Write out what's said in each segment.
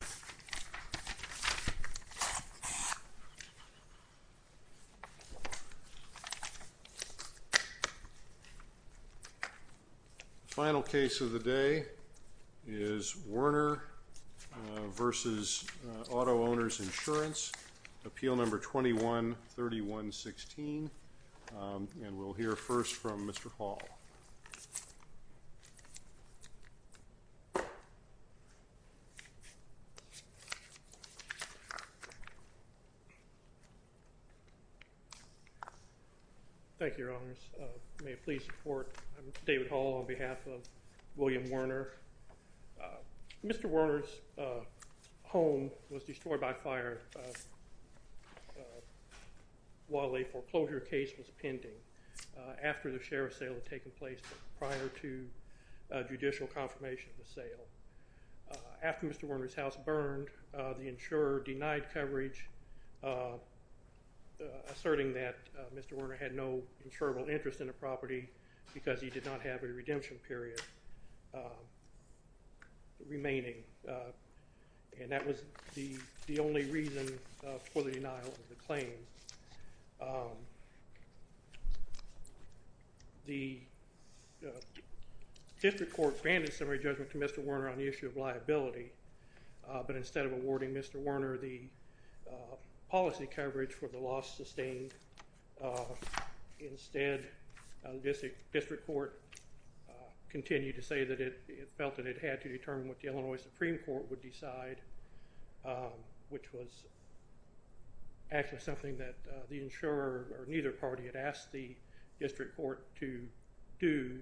The final case of the day is Werner v. Auto-Owners Insurance, Appeal No. 21-3116, and we'll hear from David Hall on behalf of William Werner. Mr. Werner's home was destroyed by fire while a foreclosure case was pending after the sheriff's sale had taken place prior to judicial confirmation of the sale. After Mr. Werner's house burned, the insurer denied coverage, asserting that Mr. Werner had no insurable interest in the property because he did not have a redemption period remaining, and that was the only reason for the denial of the claim. The district court granted summary judgment to Mr. Werner on the issue of liability, but instead of awarding Mr. Werner the policy coverage for the loss sustained, instead, the district court continued to say that it felt that it had to determine what the Illinois Supreme Court would decide, which was actually something that the insurer or neither party had asked the district court to do.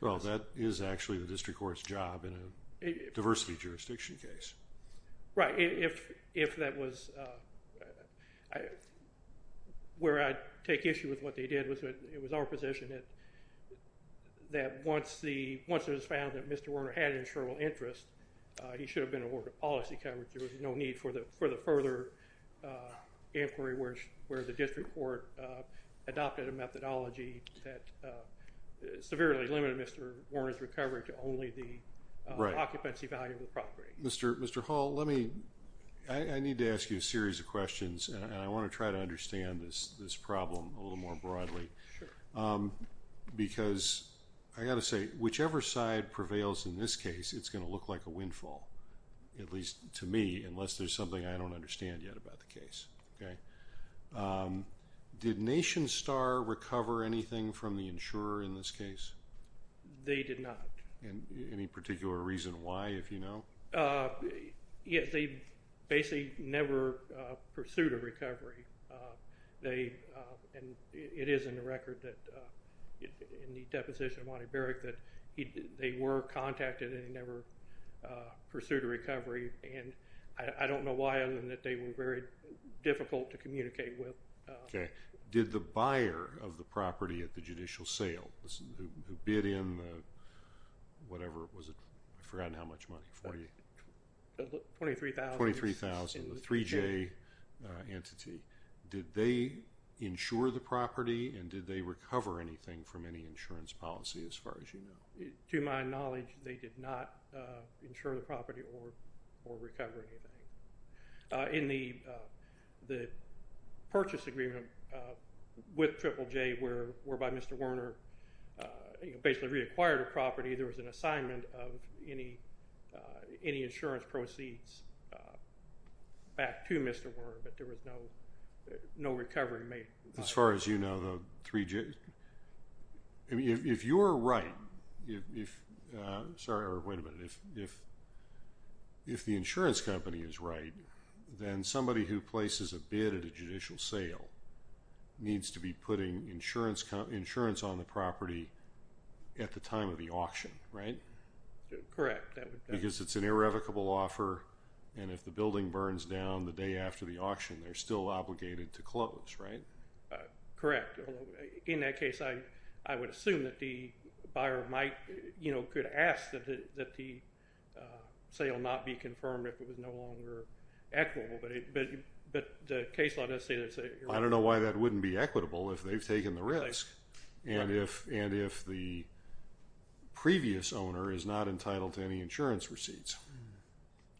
Well, that is actually the district court's job in a diversity jurisdiction case. Right. If that was where I take issue with what they did, it was our position that once it was found that Mr. Werner had an insurable interest, he should have been awarded policy coverage. There was no need for the further inquiry where the district court adopted a methodology that severely limited Mr. Werner's recovery to only the occupancy value of the property. Right. Mr. Hall, I need to ask you a series of questions, and I want to try to understand this problem a little more broadly, because I've got to say, whichever side prevails in this case, it's going to look like a windfall, at least to me, unless there's something I don't understand yet about the case. Okay. Did Nation Star recover anything from the insurer in this case? They did not. Any particular reason why, if you know? Yes, they basically never pursued a recovery. They, and it is in the record that, in the deposition of Monty Hall, they never contacted and they never pursued a recovery, and I don't know why other than that they were very difficult to communicate with. Okay. Did the buyer of the property at the judicial sale, who bid in the, whatever it was, I've forgotten how much money, $23,000, the 3J entity, did they insure the property, and did they recover anything from any insurance policy, as far as you know? To my knowledge, they did not insure the property or recover anything. In the purchase agreement with Triple J, whereby Mr. Werner basically reacquired a property, there was an assignment of any insurance proceeds back to Mr. Werner, but there was no recovery made. As far as you know, the 3J, if you're right, if, sorry, wait a minute, if the insurance company is right, then somebody who places a bid at a judicial sale needs to be putting insurance on the property at the time of the auction, right? Correct. Because it's an irrevocable offer and if the building burns down the day after the auction, they're still obligated to close, right? Correct. In that case, I would assume that the buyer might, you know, could ask that the sale not be confirmed if it was no longer equitable, but the case law does say that... I don't know why that wouldn't be equitable if they've taken the risk. Right. And if the previous owner is not entitled to any insurance receipts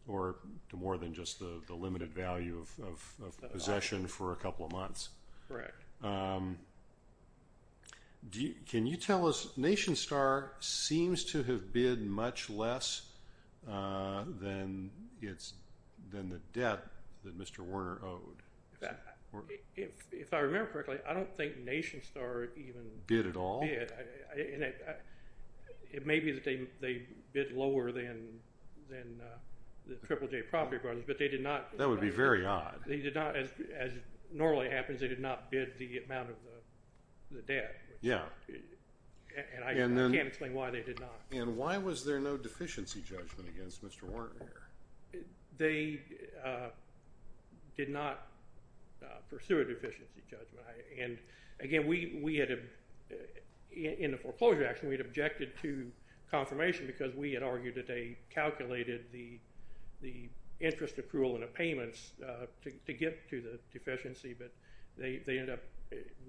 or to more than just the limited value of possession for a couple of months. Correct. Can you tell us, NationStar seems to have bid much less than the debt that Mr. Werner owed. If I remember correctly, I don't think NationStar even... lower than the Triple J Property Brothers, but they did not... That would be very odd. They did not, as normally happens, they did not bid the amount of the debt. Yeah. And I can't explain why they did not. And why was there no deficiency judgment against Mr. Werner? They did not pursue a deficiency judgment. And again, we had, in the foreclosure action, we had objected to confirmation because we had argued that they calculated the interest accrual and the payments to get to the deficiency, but they ended up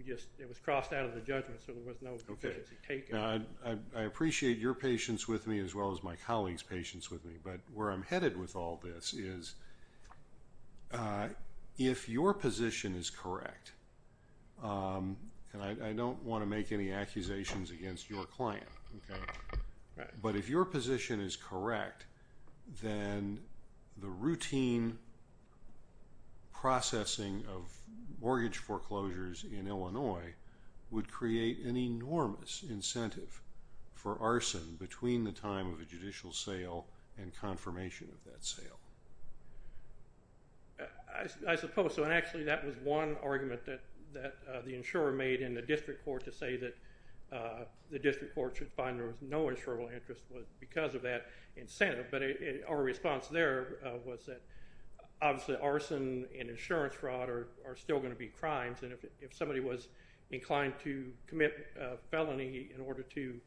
just, it was crossed out of the judgment, so there was no deficiency taken. Okay. I appreciate your patience with me as well as my colleagues' patience with me, but where I'm headed with all this is if your position is correct, and I don't want to make any accusations against your client, but if your position is correct, then the routine processing of mortgage foreclosures in Illinois would create an enormous incentive for arson between the time of a judicial sale and confirmation of that sale. I suppose so, and actually that was one argument that the insurer made in the district court to say that the district court should find there was no insurable interest because of that incentive, but our response there was that obviously arson and insurance fraud are still going to be crimes, and if somebody was inclined to commit a felony in order to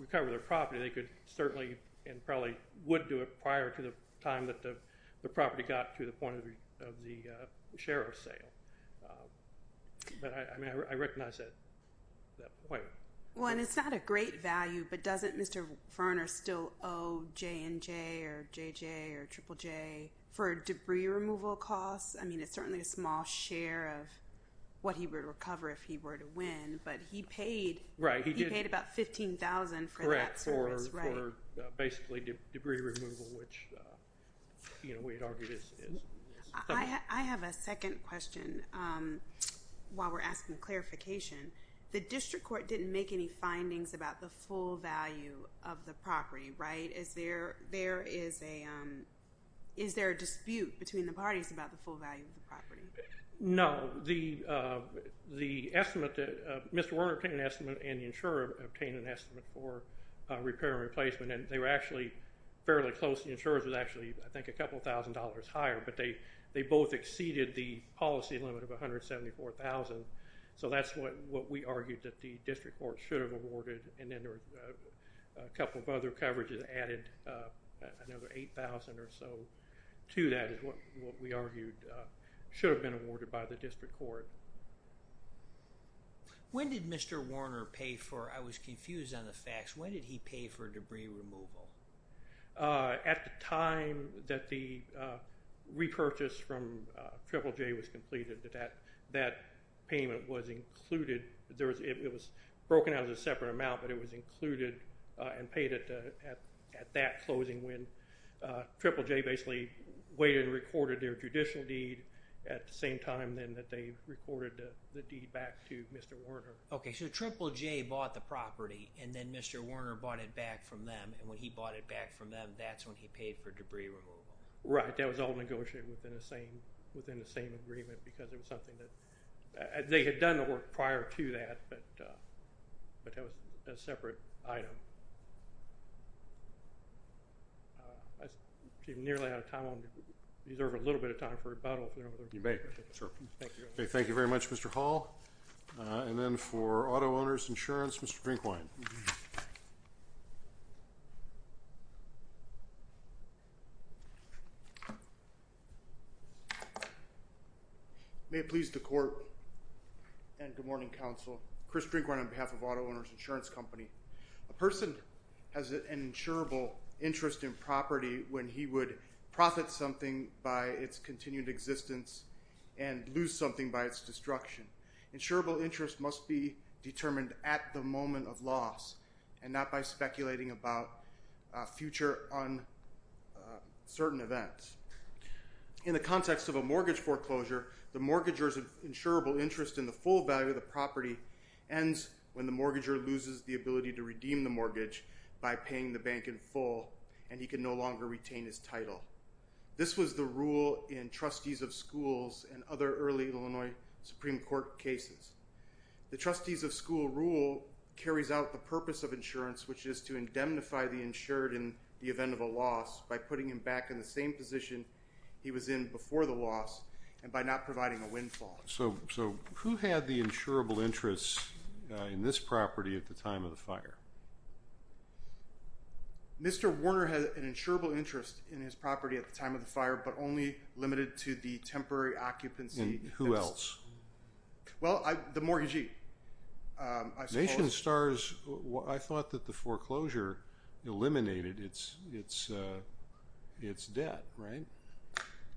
recover their property, they could certainly and probably would do it prior to the time that the property got to the point of the sheriff's sale. But I recognize that point. Well, and it's not a great value, but doesn't Mr. Ferner still owe J&J or JJ or Triple J for debris removal costs? I mean, it's certainly a small share of what he would recover if he were to win, but he paid about $15,000 for that service. Correct, for basically debris removal, which we'd argue is something. I have a second question while we're asking clarification. The district court didn't make any findings about the full value of the property, right? Is there a dispute between the parties about the full value of the property? No. The estimate, Mr. Werner obtained an estimate and the insurer obtained an estimate for repair and replacement, and they were actually fairly close. The insurer's was actually, I think, a couple thousand dollars higher, but they both exceeded the policy limit of $174,000, so that's what we argued that the district court should have awarded, and then there were a couple of other coverages added, another $8,000 or so to that is what we argued should have been awarded by the district court. When did Mr. Werner pay for, I was confused on the facts, when did he pay for debris removal? At the time that the repurchase from Triple J was completed, that payment was included, it was broken out as a separate amount, but it was included and paid at that closing when Triple J basically waited and recorded their judicial deed at the same time that they recorded the deed back to Mr. Werner. Okay, so Triple J bought the property, and then Mr. Werner bought it back from them, and when he bought it back from them, that's when he paid for debris removal. Right, that was all negotiated within the same agreement, because it was done prior to that, but that was a separate item. I'm nearly out of time, I'm going to reserve a little bit of time for rebuttal. You may, sure. Thank you very much Mr. Hall, and then for auto owners insurance, Mr. Drinkwine. Thank you. May it please the court, and good morning counsel, Chris Drinkwine on behalf of auto owners insurance company. A person has an insurable interest in property when he would profit something by its continued existence and lose something by its destruction. Insurable interest must be determined at the moment of loss, and not by speculating about future uncertain events. In the context of a mortgage foreclosure, the mortgager's insurable interest in the full value of the property ends when the mortgager loses the ability to redeem the mortgage by paying the bank in full, and he can no longer retain his title. This was the rule in trustees of schools and other early Illinois Supreme Court cases. The trustees of school rule carries out the purpose of insurance, which is to indemnify the insured in the event of a loss by putting him back in the same position he was in before the loss, and by not providing a windfall. So who had the insurable interest in this property at the time of the fire? Mr. Warner had an insurable interest in his property at the time of the fire, but only limited to the temporary occupancy. And who else? Well, the mortgagee, I suppose. Nation Stars, I thought that the foreclosure eliminated its debt, right?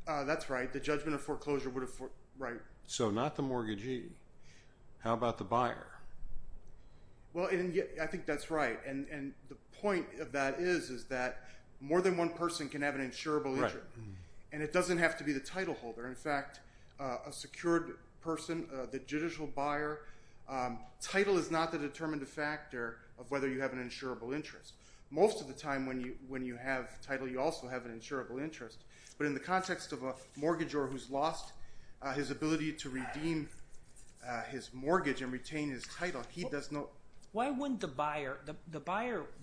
That's right. The judgment of foreclosure would have... So not the mortgagee. How about the buyer? Well, I think that's right, and the point of that is that more than one person can have an insurable interest, and it doesn't have to be the title holder. In fact, a secured person, the judicial buyer, title is not the determinative factor of whether you have an insurable interest. Most of the time when you have title, you also have an insurable interest, but in the context of a mortgagor who's lost his ability to redeem his mortgage and retain his title, he does not... Why wouldn't the buyer... The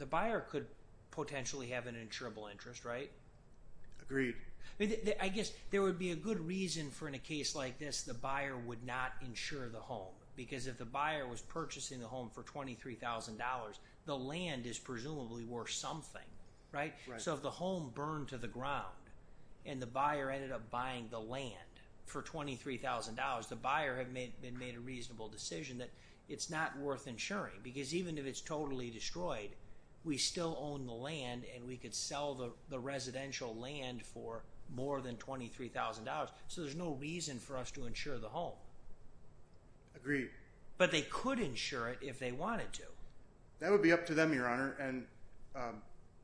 buyer could potentially have an insurable interest, right? Agreed. I guess there would be a good reason for, in a case like this, the buyer would not insure the home. Because if the buyer was purchasing the home for $23,000, the land is presumably worth something, right? So if the home burned to the ground and the buyer ended up buying the land for $23,000, the buyer had made a reasonable decision that it's not worth insuring because even if it's totally destroyed, we still own the land and we could sell the residential land for more than $23,000, so there's no reason for us to insure the home. Agreed. But they could insure it if they wanted to. That would be up to them, Your Honor, and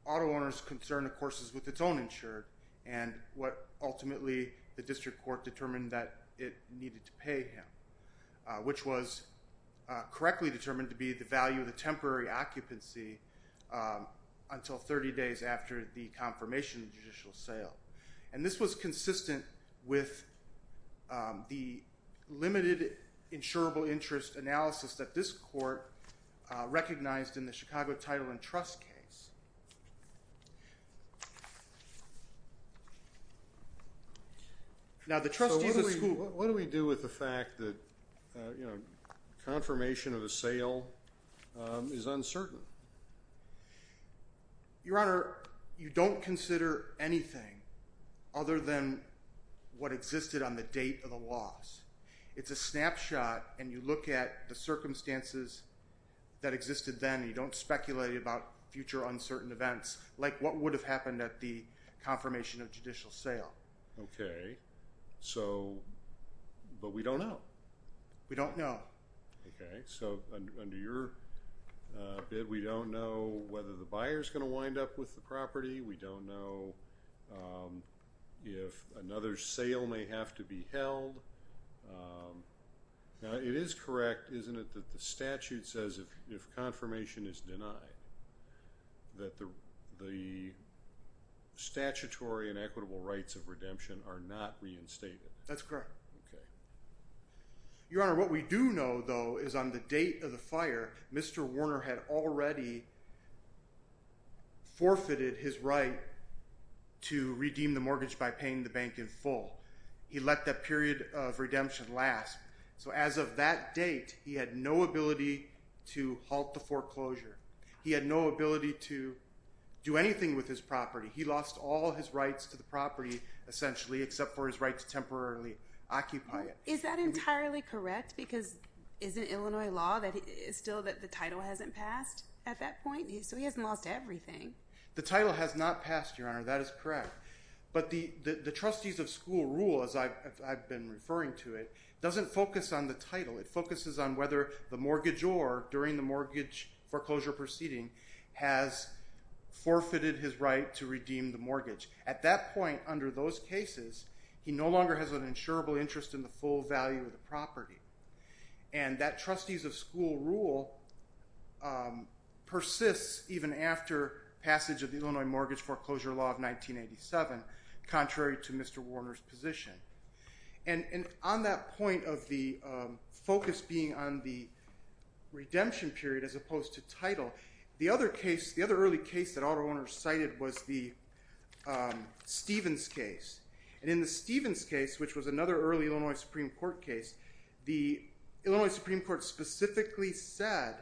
auto owners' concern, of course, is with its own insured and what ultimately the district court determined that it needed to pay him, which was correctly determined to be the value of the temporary occupancy until 30 days after the confirmation of the judicial sale. And this was consistent with the limited insurable interest analysis that this court recognized in the Chicago Title and Trust case. So what do we do with the fact that, you know, confirmation of a sale is uncertain? Your Honor, you don't consider anything other than what existed on the date of the loss. It's a snapshot and you look at the circumstances that existed then and you don't speculate about future uncertainties. Like what would have happened at the confirmation of judicial sale. Okay. So, but we don't know. We don't know. Okay. So under your bid, we don't know whether the buyer's going to wind up with the property. We don't know if another sale may have to be held. Now, it is correct, isn't it, that the statute says if confirmation is denied, that the statutory and equitable rights of redemption are not reinstated. That's correct. Okay. Your Honor, what we do know, though, is on the date of the fire, Mr. Warner had already forfeited his right to redeem the mortgage by paying the bank in full. He let that period of redemption last. So as of that date, he had no ability to halt the foreclosure. He had no ability to do anything with his property. He lost all his rights to the property, essentially, except for his right to temporarily occupy it. Is that entirely correct? Because isn't Illinois law still that the title hasn't passed at that point? So he hasn't lost everything. The title has not passed, Your Honor. That is correct. But the trustees of school rule, as I've been referring to it, doesn't focus on the title. It focuses on whether the mortgagor, during the mortgage foreclosure proceeding, has forfeited his right to redeem the mortgage. At that point, under those cases, he no longer has an insurable interest in the full value of the property. And that trustees of school rule persists even after passage of the Illinois Mortgage Foreclosure Law of 1987, contrary to Mr. Warner's position. And on that point of the focus being on the redemption period as opposed to title, the other case, the other early case that Alder Warner cited, was the Stevens case. And in the Stevens case, which was another early Illinois Supreme Court case, the Illinois Supreme Court specifically said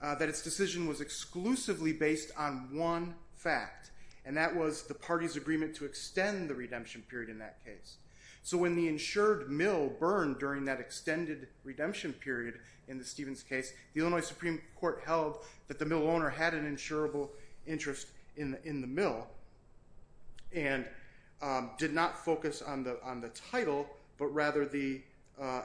that its decision was exclusively based on one fact, and that was the party's agreement to extend the redemption period in that case. So when the insured mill burned during that extended redemption period in the Stevens case, the Illinois Supreme Court held that the mill owner had an insurable interest in the mill and did not focus on the title, but rather the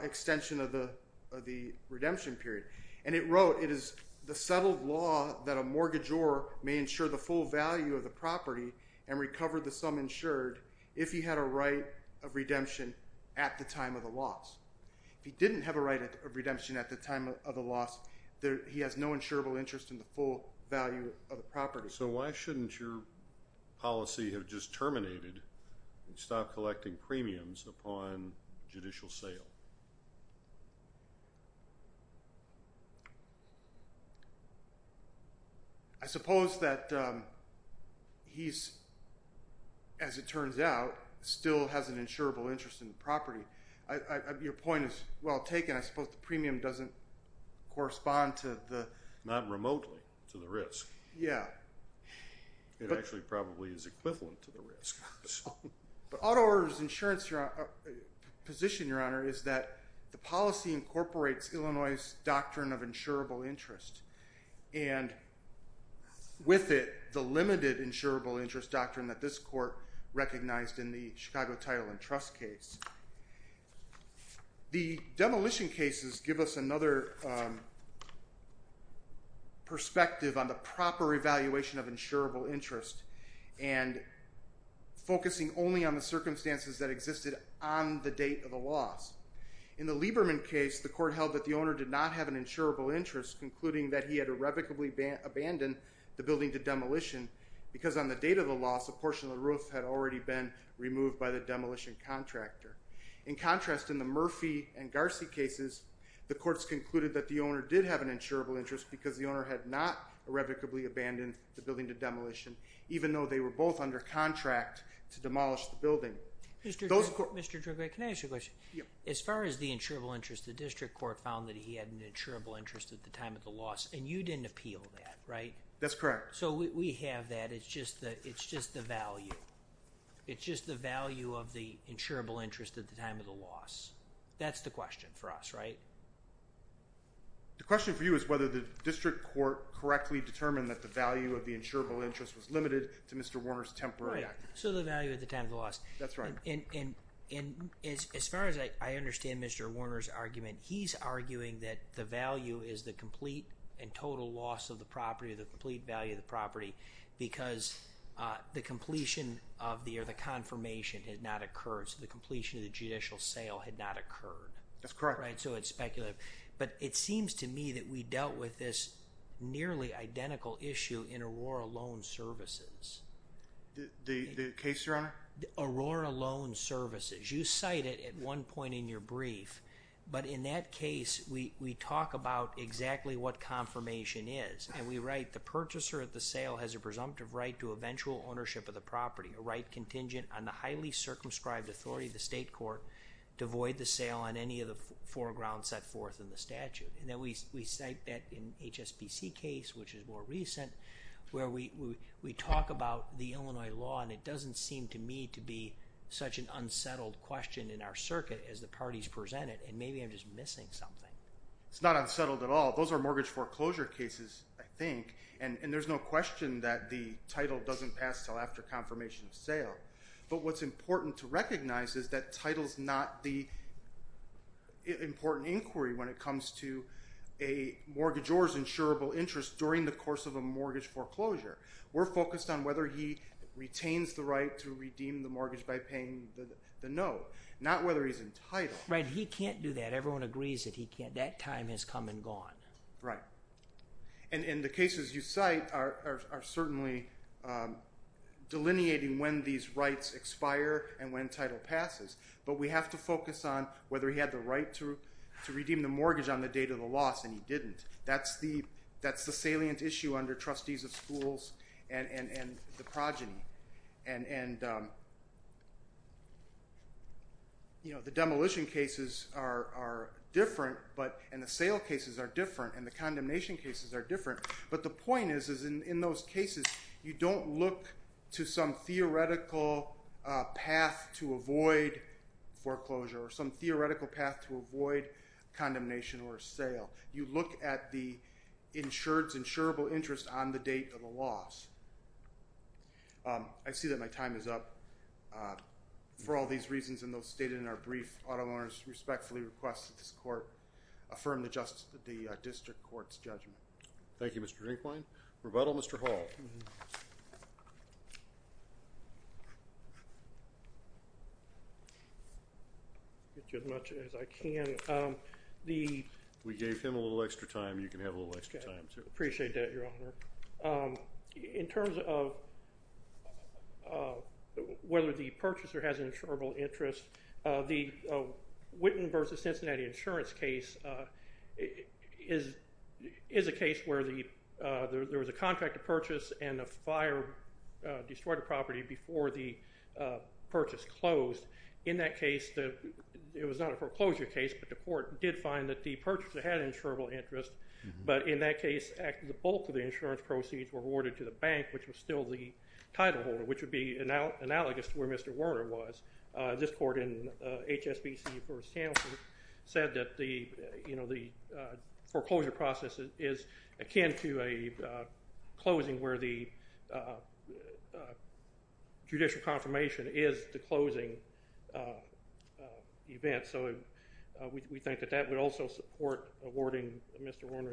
extension of the redemption period. And it wrote, it is the settled law that a mortgagor may insure the full value of the property and recover the sum insured if he had a right of redemption at the time of the loss. If he didn't have a right of redemption at the time of the loss, he has no insurable interest in the full value of the property. So why shouldn't your policy have just terminated and stopped collecting premiums upon judicial sale? I suppose that he's, as it turns out, still has an insurable interest in the property. Your point is well taken. I suppose the premium doesn't correspond to the... Not remotely to the risk. Yeah. It actually probably is equivalent to the risk. But auto owners' insurance position, Your Honor, is that the policy incorporates Illinois' doctrine of insurable interest and with it the limited insurable interest doctrine that this court recognized in the Chicago Title and Trust case. The demolition cases give us another... perspective on the proper evaluation of insurable interest and focusing only on the circumstances that existed on the date of the loss. In the Lieberman case, the court held that the owner did not have an insurable interest, concluding that he had irrevocably abandoned the building to demolition because on the date of the loss, a portion of the roof had already been removed by the demolition contractor. In contrast, in the Murphy and Garci cases, the courts concluded that the owner did have an insurable interest because the owner had not irrevocably abandoned the building to demolition, even though they were both under contract to demolish the building. Mr. Dragoite, can I ask you a question? As far as the insurable interest, the district court found that he had an insurable interest at the time of the loss, and you didn't appeal that, right? That's correct. So we have that, it's just the value. It's just the value of the insurable interest at the time of the loss. That's the question for us, right? The question for you is whether the district court correctly determined that the value of the insurable interest was limited to Mr. Warner's temporary act. So the value at the time of the loss. That's right. And as far as I understand Mr. Warner's argument, he's arguing that the value is the complete and total loss of the property, the complete value of the property, because the completion of the confirmation had not occurred. So the completion of the judicial sale had not occurred. That's correct. So it's speculative. But it seems to me that we dealt with this nearly identical issue in Aurora Loan Services. The case, Your Honor? Aurora Loan Services. You cite it at one point in your brief, but in that case we talk about exactly what confirmation is. And we write, the purchaser at the sale has a presumptive right to eventual ownership of the property, a right contingent on the highly circumscribed authority of the state court to void the sale on any of the foregrounds set forth in the statute. And then we cite that in HSBC case, which is more recent, where we talk about the Illinois law and it doesn't seem to me to be such an unsettled question in our circuit as the parties present it. And maybe I'm just missing something. It's not unsettled at all. Those are mortgage foreclosure cases, I think. And there's no question that the title doesn't pass until after confirmation of sale. But what's important to recognize is that title's not the important inquiry when it comes to a mortgagor's insurable interest during the course of a mortgage foreclosure. We're focused on whether he retains the right to redeem the mortgage by paying the note, not whether he's entitled. Right, he can't do that. Everyone agrees that he can't. That time has come and gone. Right. And the cases you cite are certainly delineating when these rights expire and when title passes. But we have to focus on whether he had the right to redeem the mortgage on the date of the loss and he didn't. That's the salient issue under trustees of schools and the progeny. And the demolition cases are different, and the sale cases are different, and the condemnation cases are different. But the point is in those cases you don't look to some theoretical path to avoid foreclosure or some theoretical path to avoid condemnation or sale. You look at the insured's insurable interest on the date of the loss. I see that my time is up. For all these reasons and those stated in our brief, auto owners respectfully request that this court affirm the district court's judgment. Thank you, Mr. Drinkwine. Rebuttal, Mr. Hall. I'll get you as much as I can. We gave him a little extra time. You can have a little extra time, too. I appreciate that, Your Honor. In terms of whether the purchaser has an insurable interest, the Witten v. Cincinnati insurance case is a case where there was a contract to purchase and a fire destroyed a property before the purchase closed. In that case, it was not a foreclosure case, but the court did find that the purchaser had an insurable interest. But in that case, the bulk of the insurance proceeds were awarded to the bank, which was still the title holder, which would be analogous to where Mr. Werner was. This court in HSBC v. Townsend said that the foreclosure process is akin to a closing where the judicial confirmation is the closing event. So we think that that would also support awarding Mr. Werner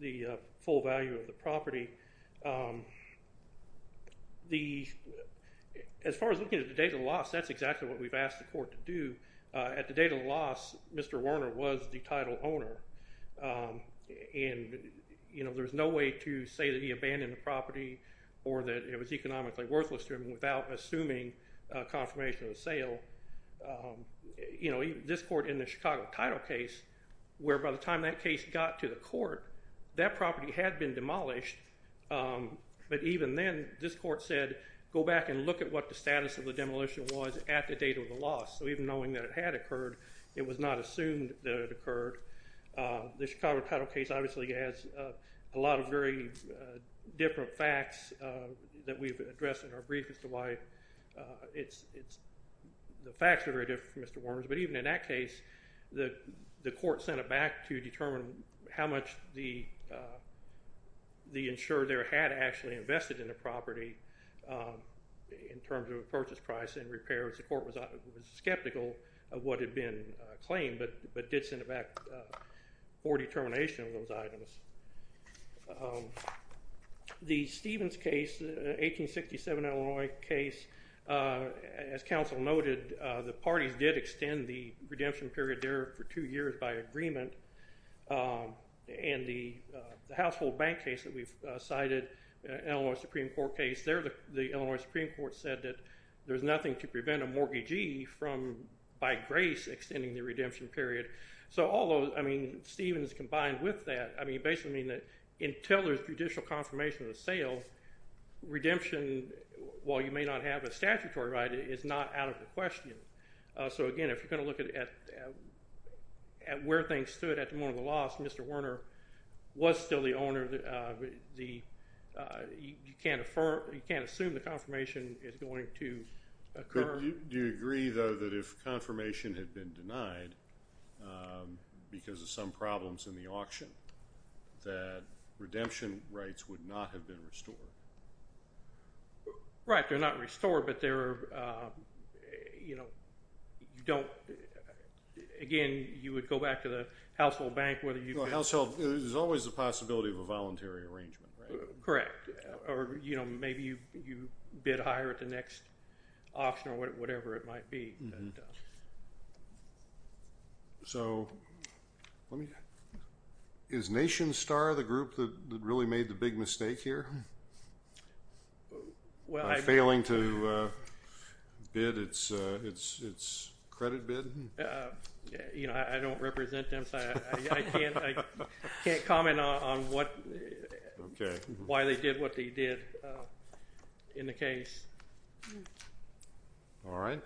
the full value of the property. The... As far as looking at the date of the loss, that's exactly what we've asked the court to do. At the date of the loss, Mr. Werner was the title owner. And, you know, there's no way to say that he abandoned the property or that it was economically worthless to him without assuming confirmation of sale. You know, this court in the Chicago title case, where by the time that case got to the court, that property had been demolished. But even then, this court said, go back and look at what the status of the demolition was at the date of the loss. So even knowing that it had occurred, it was not assumed that it occurred. The Chicago title case obviously has a lot of very different facts that we've addressed in our brief, Mr. White. It's... The facts are very different from Mr. Werner's, but even in that case, the court sent it back to determine how much the insurer there had actually invested in the property in terms of a purchase price and repairs. The court was skeptical of what had been claimed, but did send it back for determination of those items. Um... The Stevens case, 1867 Illinois case, as counsel noted, the parties did extend the redemption period there for two years by agreement. And the household bank case that we've cited, Illinois Supreme Court case, there the Illinois Supreme Court said that there's nothing to prevent a mortgagee from, by grace, extending the redemption period. So all those, I mean, Stevens combined with that, I mean, basically mean that until there's judicial confirmation of the sale, redemption, while you may not have a statutory right, is not out of the question. So again, if you're gonna look at... at where things stood at the moment of the loss, Mr. Werner was still the owner of the... You can't assume the confirmation is going to occur. Do you agree, though, that if confirmation had been denied because of some problems in the auction, that redemption rights would not have been restored? Right. They're not restored, but they're, you know, you don't... Again, you would go back to the household bank, whether you could... Well, household... There's always the possibility of a voluntary arrangement, right? Correct. Or, you know, maybe you bid higher at the next auction or whatever it might be. So let me... Is NationStar the group that really made the big mistake here? By failing to bid its credit bid? You know, I don't represent them, so I can't comment on what... Okay. Why they did what they did in the case. All right.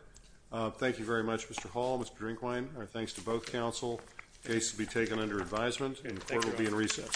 Thank you very much, Mr. Hall, Mr. Drinkwine. Our thanks to both counsel. Case will be taken under advisement, and the court will be in recess.